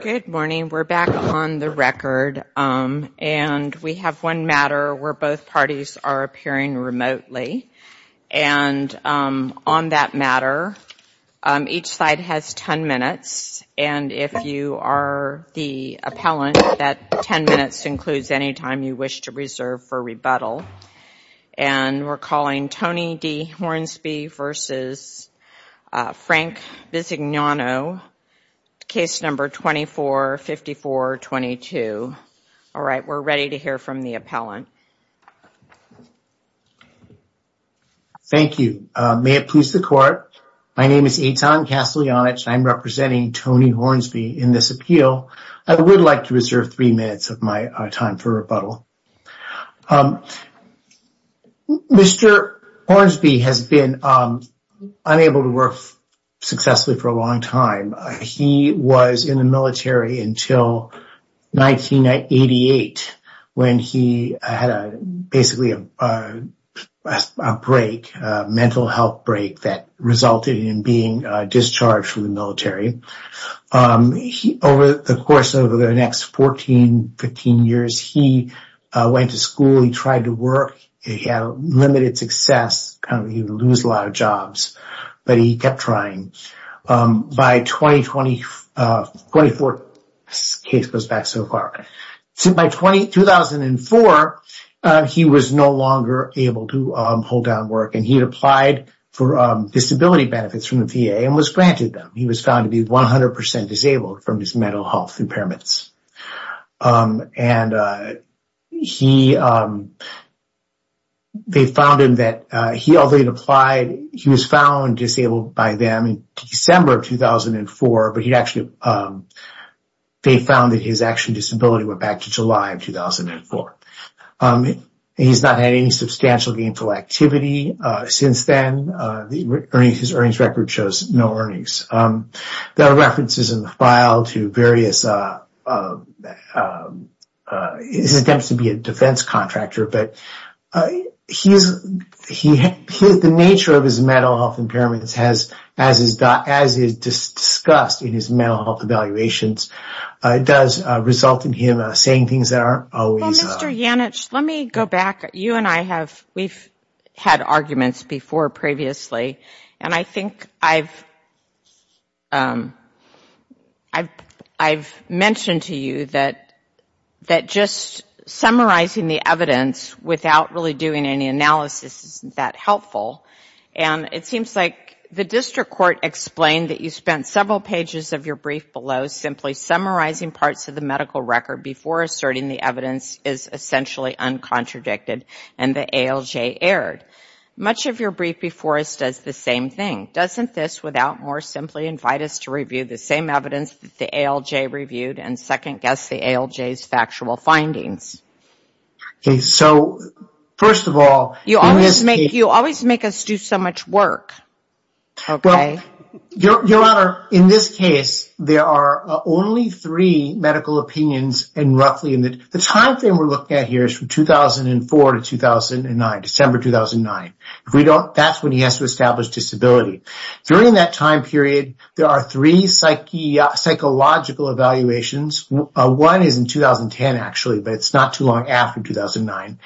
Good morning. We're back on the record and we have one matter where both parties are appearing remotely and on that matter each side has 10 minutes and if you are the appellant that 10 minutes includes any time you wish to reserve for rebuttal and we're calling Tony D. Hornsby versus Frank Bisignano, case number 245422. All right we're ready to hear from the appellant. Thank you. May it please the court. My name is Eitan Casteljanic and I'm representing Tony Hornsby in this appeal. I would like to reserve three minutes of my time for rebuttal. Mr. Hornsby has been unable to work successfully for a long time. He was in the military until 1988 when he had a basically a break, a mental health break that resulted in being discharged from the military. Over the course of the next 14-15 years he went to school, he tried to work, he had limited success, kind of you lose a lot of jobs but he kept trying. By 2020, 24th case goes back so far. So by 2004 he was no longer able to hold down work and he had applied for disability benefits from the VA and was granted them. He was found to be 100% disabled from his mental health impairments. And he, they found him that he, although he'd applied, he was found disabled by them in December of 2004 but he actually, they found that his actual disability went back to July of 2004. He's not had any substantial gainful activity since then. His earnings record shows no earnings. There are references in the file to various, his attempts to be a defense contractor but he's, the nature of his mental health impairments has, as is discussed in his mental health evaluations, it does result in him saying things that aren't always. Mr. Yannich, let me go back. You and I have, we've had arguments before previously and I think I've, I've mentioned to you that just summarizing the evidence without really doing any analysis isn't that helpful. And it seems like the district court explained that you spent several pages of your brief below simply summarizing parts of the record before asserting the evidence is essentially uncontradicted and the ALJ erred. Much of your brief before us does the same thing. Doesn't this, without more, simply invite us to review the same evidence that the ALJ reviewed and second-guess the ALJ's factual findings? Okay, so first of all, you always make, you always make us do so much work, okay? Your Honor, in this case there are only three medical opinions and roughly in the, the time frame we're looking at here is from 2004 to 2009, December 2009. If we don't, that's when he has to establish disability. During that time period, there are three psychological evaluations. One is in 2010, actually, but it's not too long after 2009.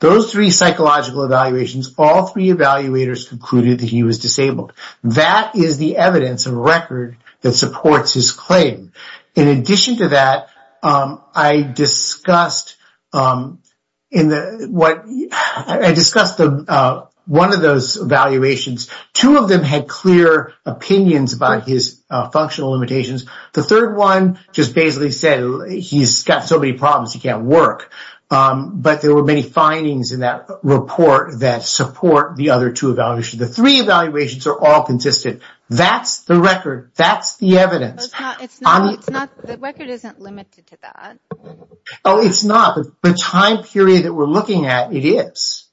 Those three psychological evaluations, all three evaluators concluded that he was disabled. That is the evidence of record that supports his claim. In addition to that, I discussed in the, what, I discussed one of those evaluations. Two of them had clear opinions about his functional limitations. The third one just basically said he's got so many problems he can't work, but there were many findings in that report that support the other two evaluations. The three evaluations are all consistent. That's the record. That's the evidence. It's not, it's not, the record isn't limited to that. Oh, it's not. The time period that we're looking at, it is.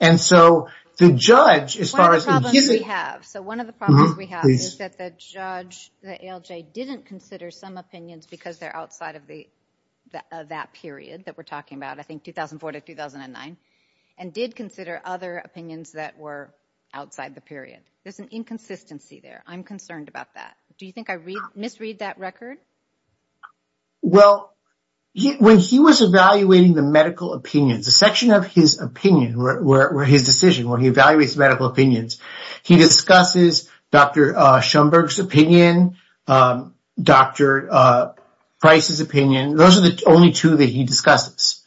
And so the judge, as far as... One of the problems we have, so one of the problems we have is that the judge, the ALJ, didn't consider some opinions because they're outside of the, of that period that we're talking about, I think 2004 to 2009, and did consider other opinions that were outside the period. There's an inconsistency there. I'm concerned about that. Do you think I misread that record? Well, when he was evaluating the medical opinions, a section of his opinion, where his decision, when he evaluates medical opinions, he discusses Dr. Schoenberg's opinion, Dr. Price's opinion. Those are the only two that he discusses.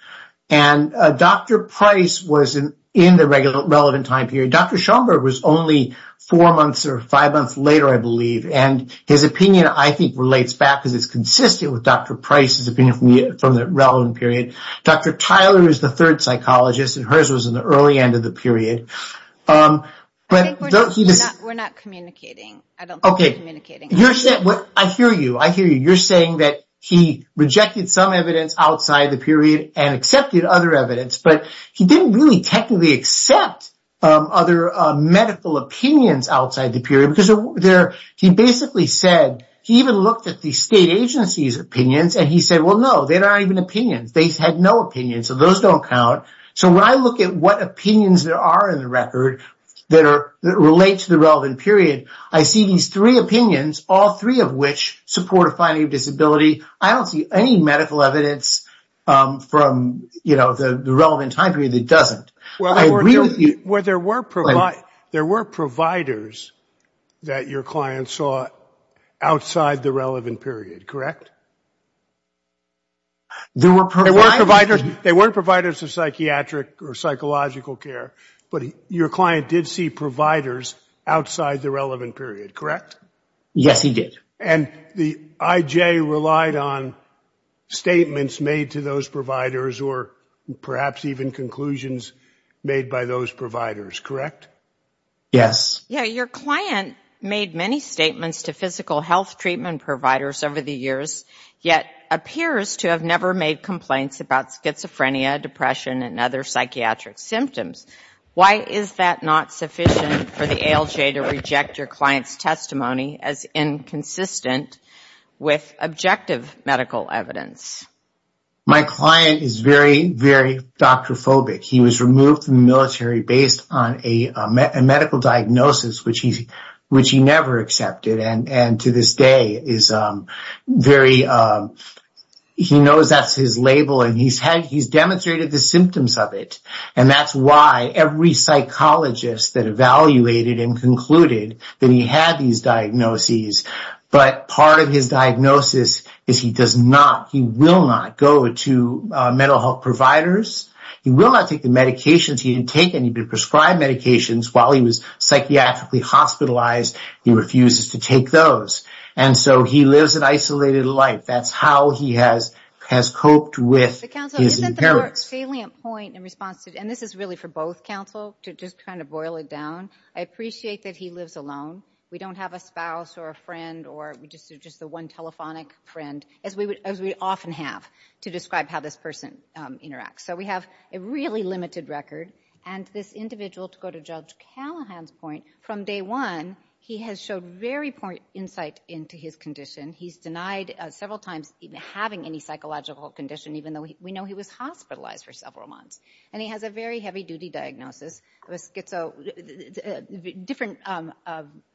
And Dr. Price was in the relevant time period. Dr. Schoenberg was only four months or five months later, I believe, and his opinion, I think, relates back because it's consistent with Dr. Price's opinion from the relevant period. Dr. Tyler is the third psychologist, and hers was in the early end of the period. We're not communicating. I don't think we're communicating. I hear you. I hear you. You're saying that he rejected some evidence outside the period and accepted other evidence, but he didn't really technically accept other medical opinions outside the period because he basically said, he even looked at the state agency's opinions, and he said, well, no, they're not even opinions. They had no opinions, so those don't count. So when I look at what opinions there are in the record that relate to the relevant period, I see these three opinions, all three of which support a finding of disability. I don't see any medical evidence from, you know, the relevant time period that doesn't. There were providers that your client saw outside the relevant period, correct? They weren't providers of psychiatric or psychological care, but your client did see providers outside the relevant period, correct? Yes, he did. And the IJ relied on statements made to those providers or perhaps even conclusions made by those providers, correct? Yes. Yeah, your client made many statements to physical health treatment providers over the years, yet appears to have never made complaints about schizophrenia, depression, and other psychiatric symptoms. Why is that not sufficient for the ALJ to reject your client's testimony as inconsistent with objective medical evidence? My client is very, very doctrophobic. He was removed from the military based on a medical diagnosis, which he never accepted, and to this day, he knows that's his label, and he's evaluated and concluded that he had these diagnoses, but part of his diagnosis is he does not, he will not go to mental health providers. He will not take the medications he had taken. He prescribed medications while he was psychiatrically hospitalized. He refuses to take those, and so he lives an isolated life. That's how he has coped with his impairments. A salient point in response to, and this is really for both counsel, to just kind of boil it down. I appreciate that he lives alone. We don't have a spouse or a friend, or we just do just the one telephonic friend, as we would, as we often have to describe how this person interacts. So we have a really limited record, and this individual, to go to Judge Callahan's point, from day one he has showed very poor insight into his condition. He's denied several times having any psychological condition, even though we know he was hospitalized for several months, and he has a very heavy-duty diagnosis of a schizo, different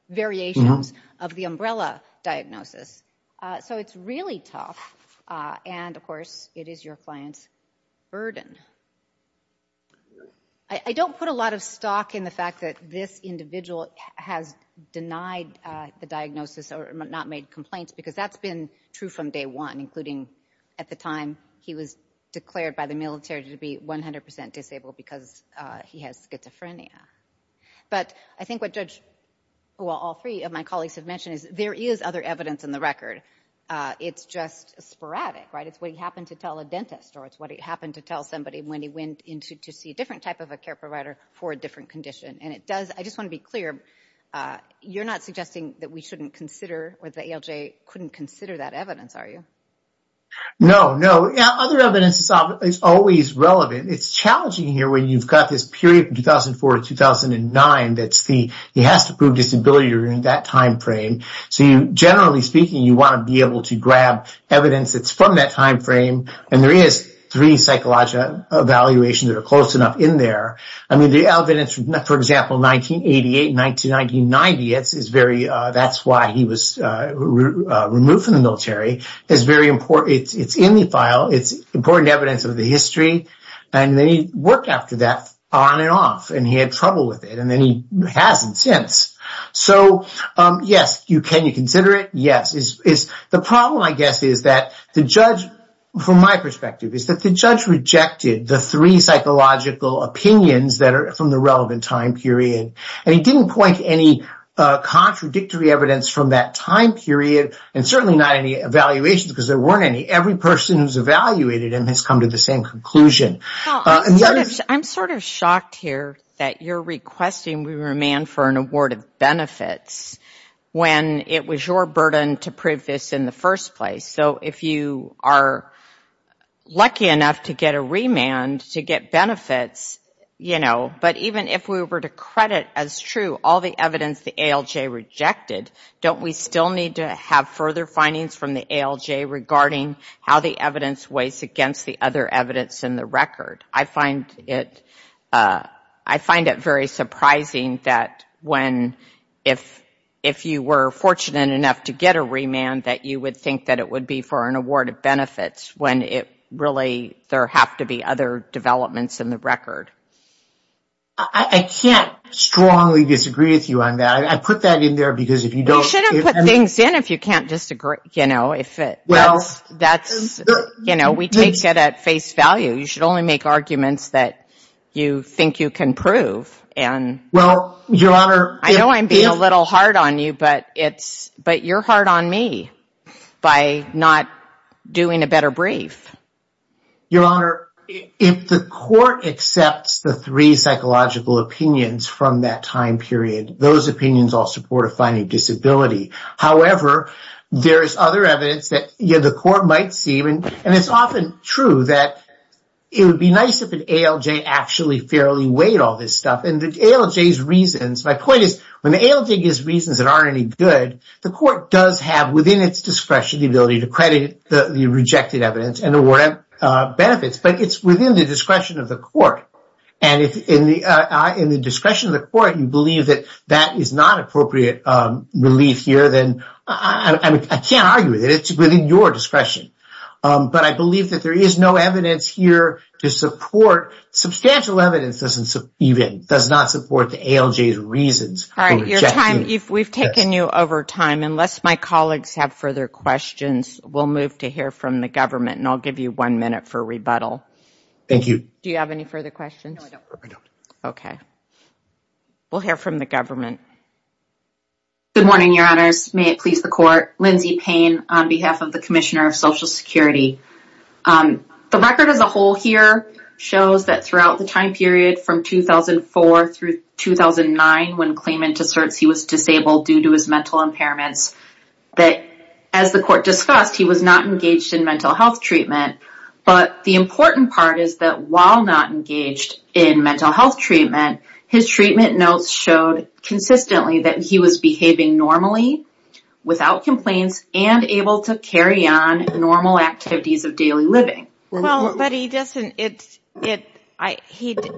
variations of the umbrella diagnosis. So it's really tough, and of course it is your client's burden. I don't put a lot of stock in the fact that this individual has denied the diagnosis or not made complaints, because that's been true from day one, including at the time he was declared by the military to be 100% disabled because he has schizophrenia. But I think what Judge, well all three of my colleagues have mentioned, is there is other evidence in the record. It's just sporadic, right? It's what he happened to tell a dentist, or it's what he happened to tell somebody when he went in to see a different type of a care provider for a different condition. And it does, I just want to be clear, you're not suggesting that we shouldn't consider, or the ALJ couldn't consider that evidence, are you? No, no. Other evidence is always relevant. It's challenging here when you've got this period from 2004 to 2009, that's the, he has to prove disability during that time frame. So you, generally speaking, you want to be able to grab evidence that's from that time frame, and there is three psychological evaluations that are close enough in there. I mean the evidence, for example, 1988, 1990, it's very, that's why he was removed from the military, is very important. It's in the file, it's important evidence of the history, and then he worked after that on and off, and he had trouble with it, and then he hasn't since. So yes, can you consider it? Yes. The problem, I guess, is that the judge, from my perspective, is that the judge rejected the three psychological opinions that are from the relevant time period, and he didn't point to any contradictory evidence from that time period, and certainly not any evaluations, because there weren't any. Every person who's evaluated him has come to the same conclusion. I'm sort of shocked here that you're requesting we remand for an award of benefits when it was your burden to prove this in the first place. So if you are lucky enough to get a remand to get benefits, you know, but even if we were to credit as true all the evidence the ALJ rejected, don't we still need to have further findings from the ALJ regarding how the evidence weighs against the other evidence in the record? I find it, I find it very surprising that when, if you were fortunate enough to get a remand, that you would think that it would be for an award of benefits, when it really, there have to be other developments in the record. I can't strongly disagree with you on that. I put that in there because if you don't... You shouldn't put things in if you can't disagree, you know, if it, well, that's, you know, we take it at face value. You should only make arguments that you think you can prove, and... Well, Your Honor... I know I'm being a little hard on you, but it's, but you're hard on me by not doing a better brief. Your Honor, if the court accepts the three psychological opinions from that time period, those opinions all support a finding of disability. However, there is other evidence that, yeah, the court might see, and it's often true that it would be nice if an ALJ actually fairly weighed all this stuff, and the ALJ's reasons, my point is, when the ALJ gives reasons that aren't any good, the court does have within its discretion the ability to credit the rejected evidence and award benefits, but it's within the discretion of the court, and if in the discretion of the court you believe that that is not appropriate relief here, then I can't argue with it. It's within your discretion, but I believe that there is no evidence here to support... Substantial evidence doesn't even, does not support the ALJ's reasons. All right, we've taken you over time. Unless my colleagues have further questions, we'll move to hear from the government, and I'll give you one minute for rebuttal. Thank you. Do you have any further questions? No, I don't. Okay, we'll hear from the government. Good morning, Your Honors. May it please the court. Lindsey Payne on behalf of the Commissioner of Social Security. The record as a whole here shows that throughout the time period from 2004 through 2009 when claimant asserts he was disabled due to his mental impairments, that as the court discussed, he was not engaged in mental health treatment, but the important part is that while not engaged in mental health treatment, his treatment notes showed consistently that he was behaving normally, without complaints, and able to carry on normal activities of daily living. But he doesn't,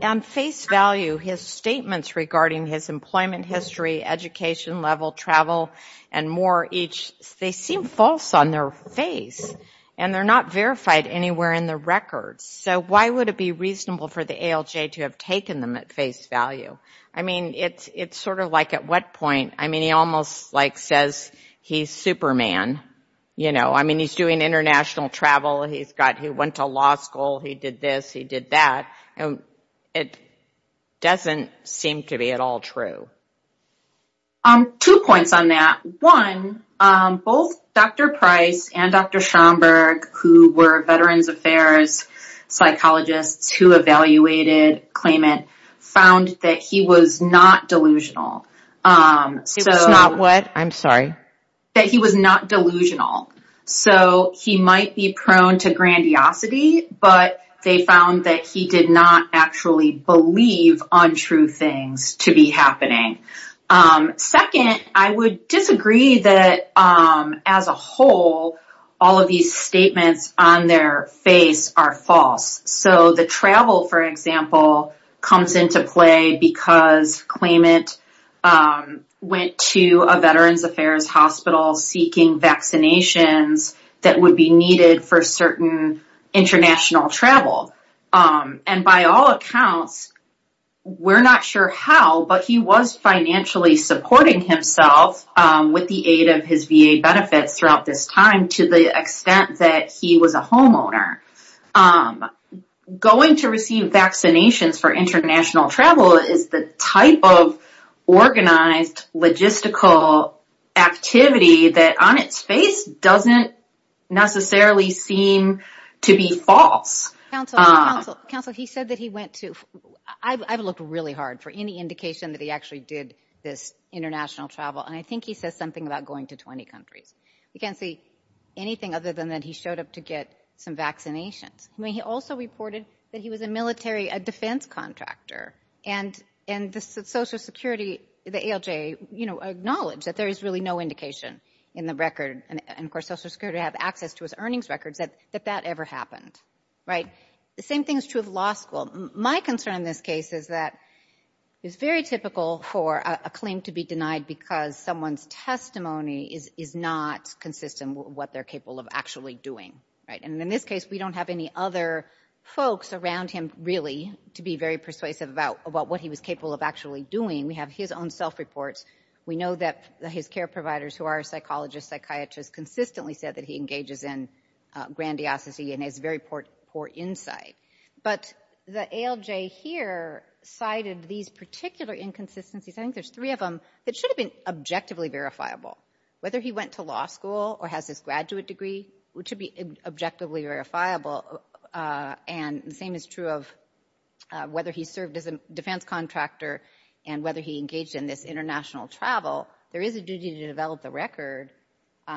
on face value, his statements regarding his employment history, education level, travel, and more each, they seem false on their face, and they're not verified anywhere in the records. So why would it be reasonable for the ALJ to have taken them at face value? I mean, it's sort of like at what point, I mean, he almost like says he's Superman, you know, I mean he's doing international travel, he went to law school, he did this, he did that, and it doesn't seem to be at all true. Two points on that. One, both Dr. Price and Dr. Schomburg, who were Veterans Affairs psychologists who evaluated claimant, found that he was not delusional. He was not what? I'm sorry. That he was not delusional. So he might be prone to grandiosity, but they found that he did not actually believe untrue things to be happening. Second, I would disagree that, as a whole, all of these statements on their face are false. So the travel, for example, comes into play because claimant went to a Veterans Affairs hospital seeking vaccinations that would be needed for certain international travel. And by all accounts, we're not sure how, but he was financially supporting himself with the aid of his VA benefits throughout this time to the extent that he was a homeowner. Going to receive vaccinations for international travel is the type of organized logistical activity that, on its face, doesn't necessarily seem to be false. Counsel, he said that he went to, I've looked really hard for any indication that he actually did this international travel, and I think he says something about going to 20 countries. We can't see anything other than that he showed up to get some vaccinations. I mean, he also reported that he was a military, a defense contractor, and the Social Security, the ALJ, you know, acknowledged that there is really no indication in the record, and of course, Social Security have access to his earnings records, that that ever happened, right? The same thing is true of law school. My concern in this case is that it's very typical for a claim to be denied because someone's testimony is not consistent with what they're capable of actually doing, right? And in this case, we don't have any other folks around him, really, to be very persuasive about what he was capable of actually doing. We have his own self-reports. We know that his care providers, who are psychologists, psychiatrists, consistently said that he engages in grandiosity and has very poor insight, but the ALJ here cited these particular inconsistencies. I think there's three of them that should have been objectively verifiable. Whether he went to law school or has his graduate degree, which should be objectively verifiable, and the same is true of whether he served as a defense contractor and whether he engaged in this international travel, there is a duty to develop the record.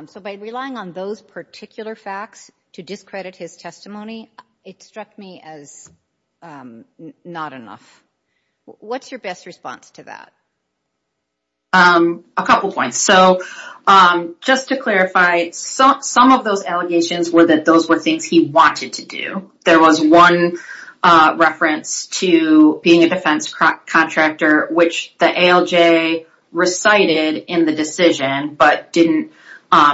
So by relying on those particular facts to discredit his testimony, it struck me as not enough. What's your best response to that? A couple points. So just to clarify, some of those allegations were that those were things he wanted to do. There was one reference to being a defense contractor, which the ALJ recited in the decision but didn't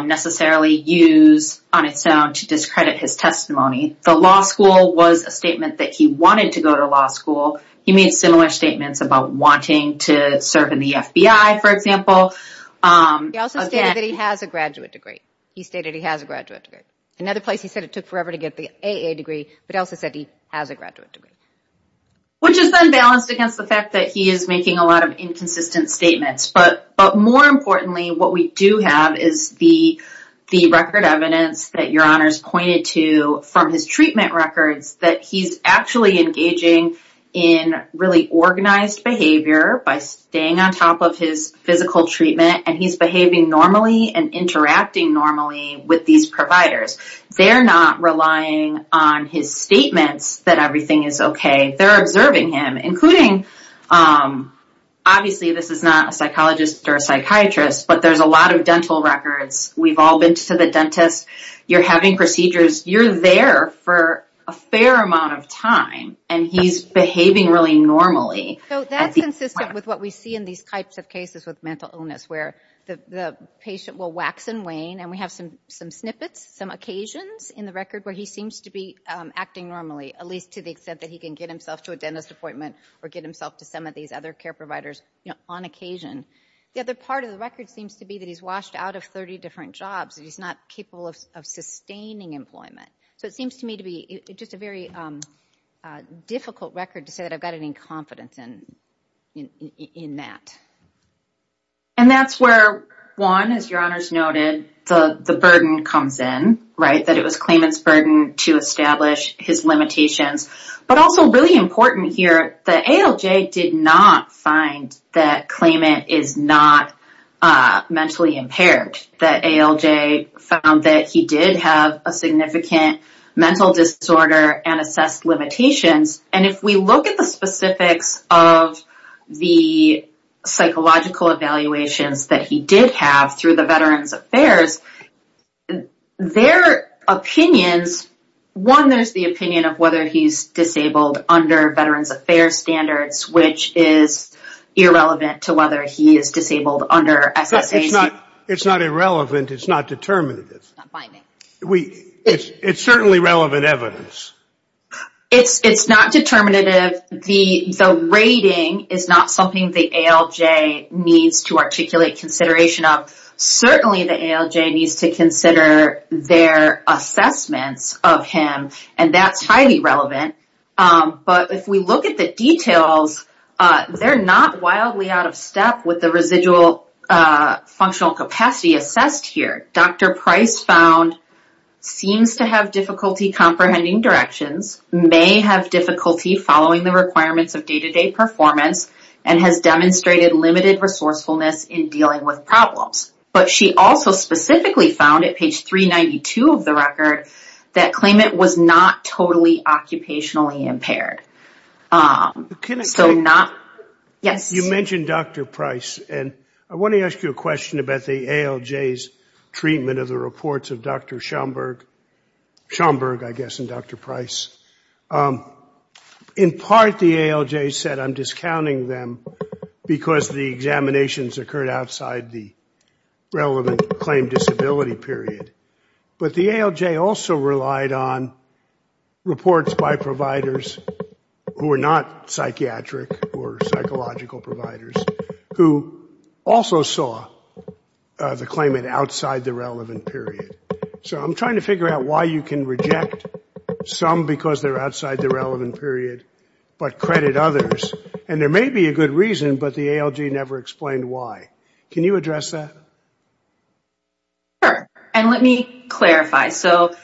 necessarily use on its own to discredit his testimony. The law school was a statement that he wanted to go to law school. He made similar statements about wanting to serve in the FBI, for example. He also stated that he has a graduate degree. He stated he has a graduate degree. Another place he said it took forever to get the AA degree, but also said he has a graduate degree. Which is unbalanced against the fact that he is making a lot of inconsistent statements, but more importantly, what we do have is the record evidence that your honors pointed to from his treatment records that he's actually engaging in really organized behavior by staying on top of his physical treatment and he's behaving normally and interacting normally with these providers. They're not relying on his statements that everything is okay. They're observing him, including obviously this is not a psychologist or a psychiatrist, but there's a lot of dental records. We've all been to the dentist. You're having procedures. You're there for a fair amount of time and he's behaving really normally. That's consistent with what we see in these types of cases with mental illness where the patient will wax and wane and we have some some snippets, some occasions in the record where he seems to be acting normally, at least to the extent that he can get himself to a dentist appointment or get himself to some of these other care providers on occasion. The other part of the record seems to be that he's washed out of 30 different jobs. He's not capable of sustaining employment. It seems to me to be just a very difficult record to say that I've got any confidence in that. That's where one, as your honors noted, the burden comes in. That it was Klayman's burden to establish his limitations, but also really important here that ALJ did not find that Klayman is not mentally impaired. That ALJ found that he did have a significant mental disorder and assessed limitations and if we look at the specifics of the psychological evaluations that he did have through the Veterans Affairs, their opinions, one, there's the opinion of whether he's disabled under Veterans Affairs standards, which is irrelevant to whether he is disabled under SSAC. It's not irrelevant. It's not determinative. It's certainly relevant evidence. It's not determinative. The rating is not something the ALJ needs to articulate consideration of. Certainly the ALJ needs to consider their assessments of him and that's highly relevant, but if we look at the details, they're not wildly out of step with the residual functional capacity assessed here. Dr. Price found seems to have difficulty comprehending directions, may have difficulty following the requirements of day-to-day performance, and has demonstrated limited resourcefulness in dealing with problems, but she also specifically found at page 392 of the record that Klayman was not totally occupationally impaired. You mentioned Dr. Price and I want to ask you a question about the ALJ's treatment of the reports of Dr. Schomburg, I guess, and Dr. Price. In part, the ALJ said, I'm discounting them because the examinations occurred outside the relevant claim disability period, but the ALJ also relied on reports by providers who were not psychiatric or psychological providers who also saw the claimant outside the relevant period. So I'm trying to figure out why you can reject some because they're outside the relevant period, but credit others, and there may be a good reason, but the ALJ never explained why. Can you address that? Sure, and let me clarify. So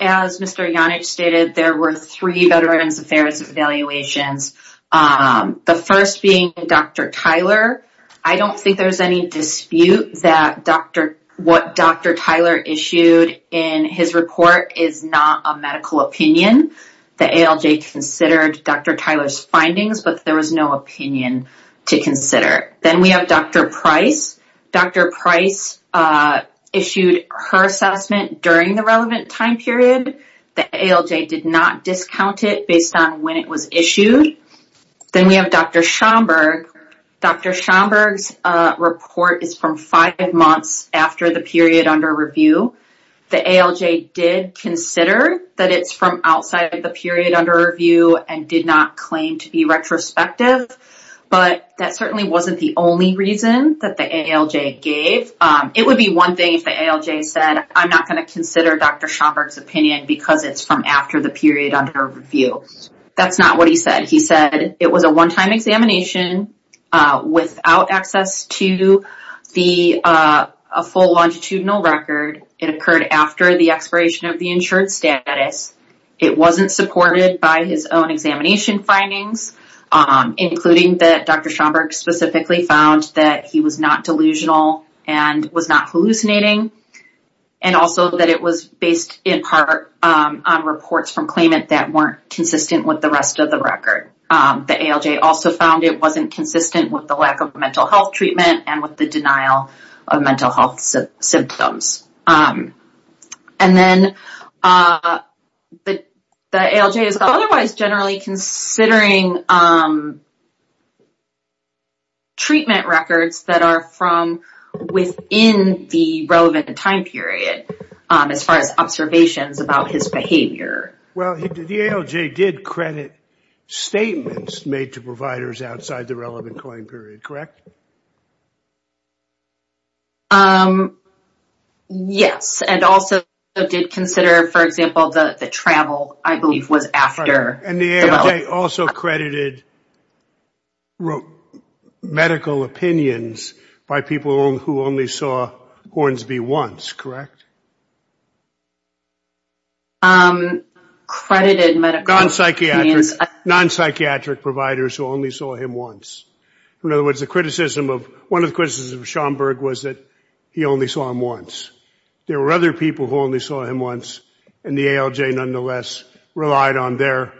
as Mr. Janich stated, there were three Veterans Affairs evaluations, the first being Dr. Tyler. I don't think there's any dispute that what Dr. Tyler issued in his report is not a medical opinion. The ALJ considered Dr. Tyler's findings, but there was no opinion to consider. Then we have Dr. Price. Dr. Price issued her assessment during the relevant time period. The ALJ did not discount it based on when it was issued. Then we have Dr. Schomburg. Dr. Schomburg's report is from five months after the period under review. The ALJ did consider that it's from outside of the period under review and did not claim to be retrospective, but that certainly wasn't the only reason that the ALJ gave. It would be one thing if the ALJ said, I'm not going to consider Dr. Schomburg's opinion because it's from after the period under review. That's not what he said. He said it was a one-time examination without access to a full longitudinal record. It occurred after the expiration of the insured status. It wasn't supported by his own examination findings, including that Dr. Schomburg specifically found that he was not delusional and was not hallucinating, and also that it was based in part on reports from claimant that weren't consistent with the rest of the record. The ALJ also found it wasn't consistent with the lack of mental health treatment and with the denial of mental health symptoms. Then the ALJ is otherwise generally considering treatment records that are from within the relevant time period as far as observations about his behavior. The ALJ did credit statements made to providers outside the relevant claim period, correct? Yes, and also did consider, for example, the travel I believe was after. The ALJ also credited medical opinions by people who only saw Hornsby once, correct? Non-psychiatric providers who only saw him once. In other words, one of the criticisms of Schomburg was that he only saw him once. There were other people who only saw him once, and the ALJ nonetheless relied on their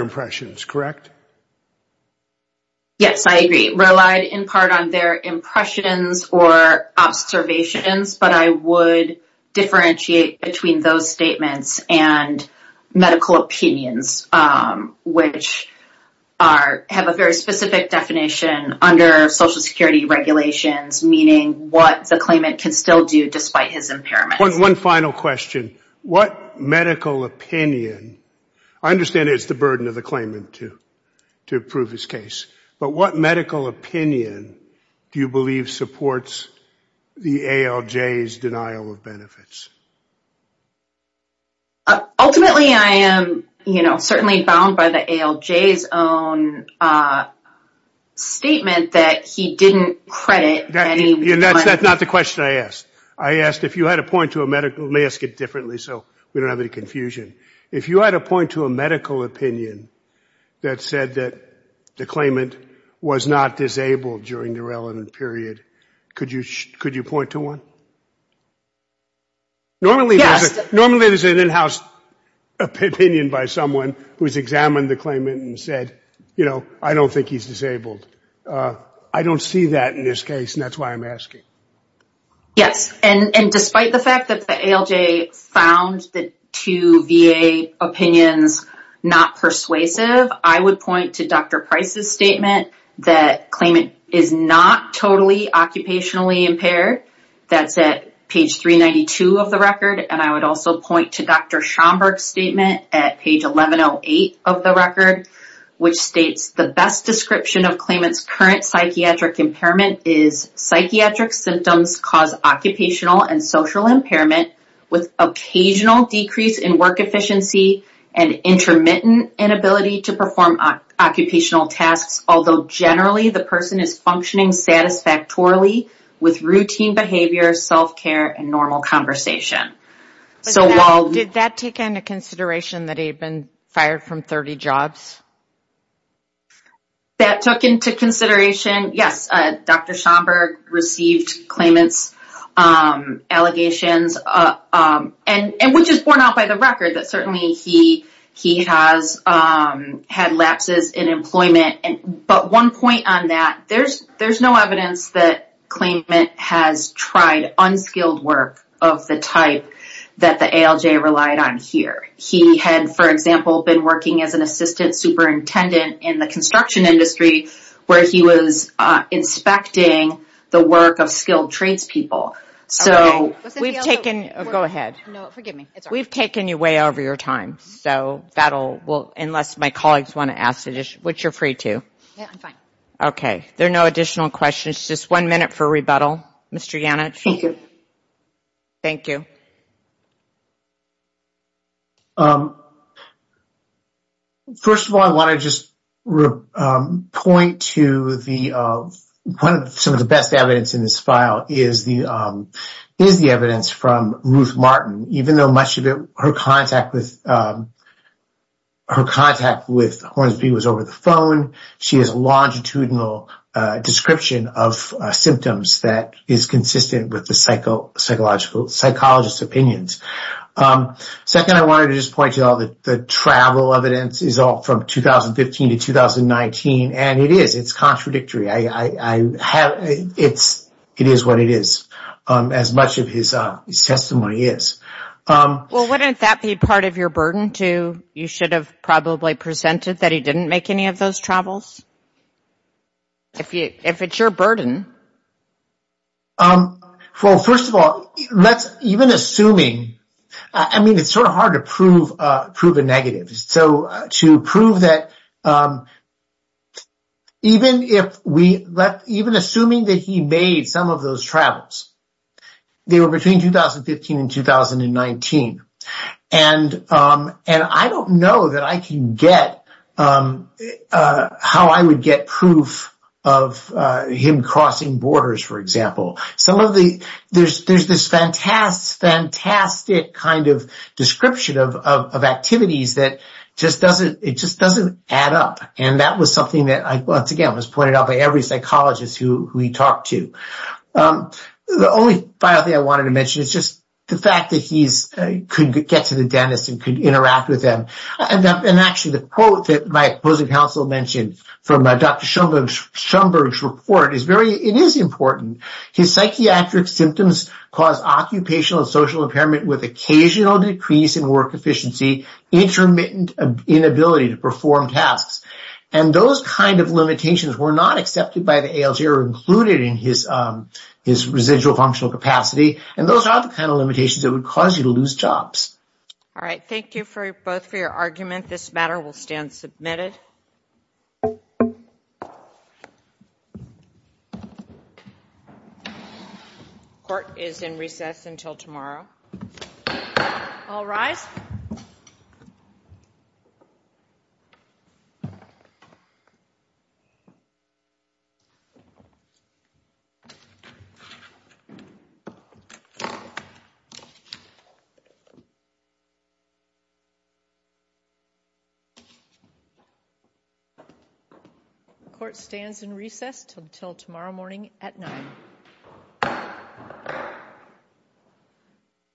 impressions, correct? Yes, I agree. Relied in part on their impressions or observations, but I would differentiate between those statements and medical opinions, which have a very specific definition under Social Security regulations, meaning what the claimant can still do despite his impairment. One final question. What medical opinion, I understand it's the claimant to prove his case, but what medical opinion do you believe supports the ALJ's denial of benefits? Ultimately, I am certainly bound by the ALJ's own statement that he didn't credit any... That's not the question I asked. I asked if you had a point to a medical, let me ask it differently so we don't have any confusion. If you had a point to a medical opinion that said that the claimant was not disabled during the relevant period, could you point to one? Normally, there's an in-house opinion by someone who's examined the claimant and said, you know, I don't think he's disabled. I don't see that in this case, and that's why I'm asking. Yes, and despite the fact that the ALJ found the two VA opinions not persuasive, I would point to Dr. Price's statement that claimant is not totally occupationally impaired. That's at page 392 of the record, and I would also point to Dr. Schomburg's statement at page 1108 of the record, which states the best description of claimant's current psychiatric impairment is psychiatric symptoms cause occupational and social impairment with occasional decrease in work efficiency and intermittent inability to perform occupational tasks, although generally the person is functioning satisfactorily with routine behavior, self-care, and normal conversation. So while... Did that take into consideration that he had been fired from 30 jobs? That took into consideration, yes, Dr. Schomburg received claimant's allegations, and which is borne out by the record that certainly he has had lapses in employment, but one point on that, there's no evidence that claimant has tried unskilled work of the type that the ALJ relied on here. He had, for example, been working as an assistant superintendent in the construction industry where he was inspecting the work of skilled trades people. So... We've taken... Go ahead. No, forgive me. We've taken you way over your time, so that'll... Well, unless my colleagues want to ask additional... Which you're free to. Yeah, I'm fine. Okay, there are no additional questions. Just one minute for rebuttal, Mr. Yannich. Thank you. Thank you. First of all, I want to just point to the... One of... Some of the best evidence in this file is the evidence from Ruth Martin, even though much of her contact with Hornsby was over the phone. She has a longitudinal description of symptoms that is consistent with the psychologist's opinions. Second, I wanted to just point to all the travel evidence is all from 2015 to 2019, and it is. It's contradictory. I have... It's... It is what it is, as much of his testimony is. Well, wouldn't that be part of your burden, too? You should have probably presented that he didn't make any of those travels? If it's your burden. Well, first of all, let's... Even assuming... I mean, it's sort of hard to prove a negative. So, to prove that... Even if we... Even assuming that he made some of those travels, they were between 2015 and 2019, and I don't know that I can get how I would get proof of him crossing borders, for example. Some of the... There's this fantastic, fantastic kind of description of activities that just doesn't... It just doesn't add up, and that was something that, once again, was pointed out by every psychologist who we talked to. The only final thing I wanted to mention is just the fact that he's... Could get to the dentist and could interact with them. And actually, the quote that my opposing counsel mentioned from Dr. Schoenberg's report is very... It is important. His psychiatric symptoms cause occupational and social impairment with occasional decrease in work efficiency, intermittent inability to perform tasks. And those kind of limitations were not accepted by the ALJ or included in his residual functional capacity. And those are the kind of limitations that would cause you to lose jobs. All right. Thank you for both for your argument. This matter will stand submitted. Court is in recess until tomorrow. All rise. The court stands in recess until tomorrow morning at 9.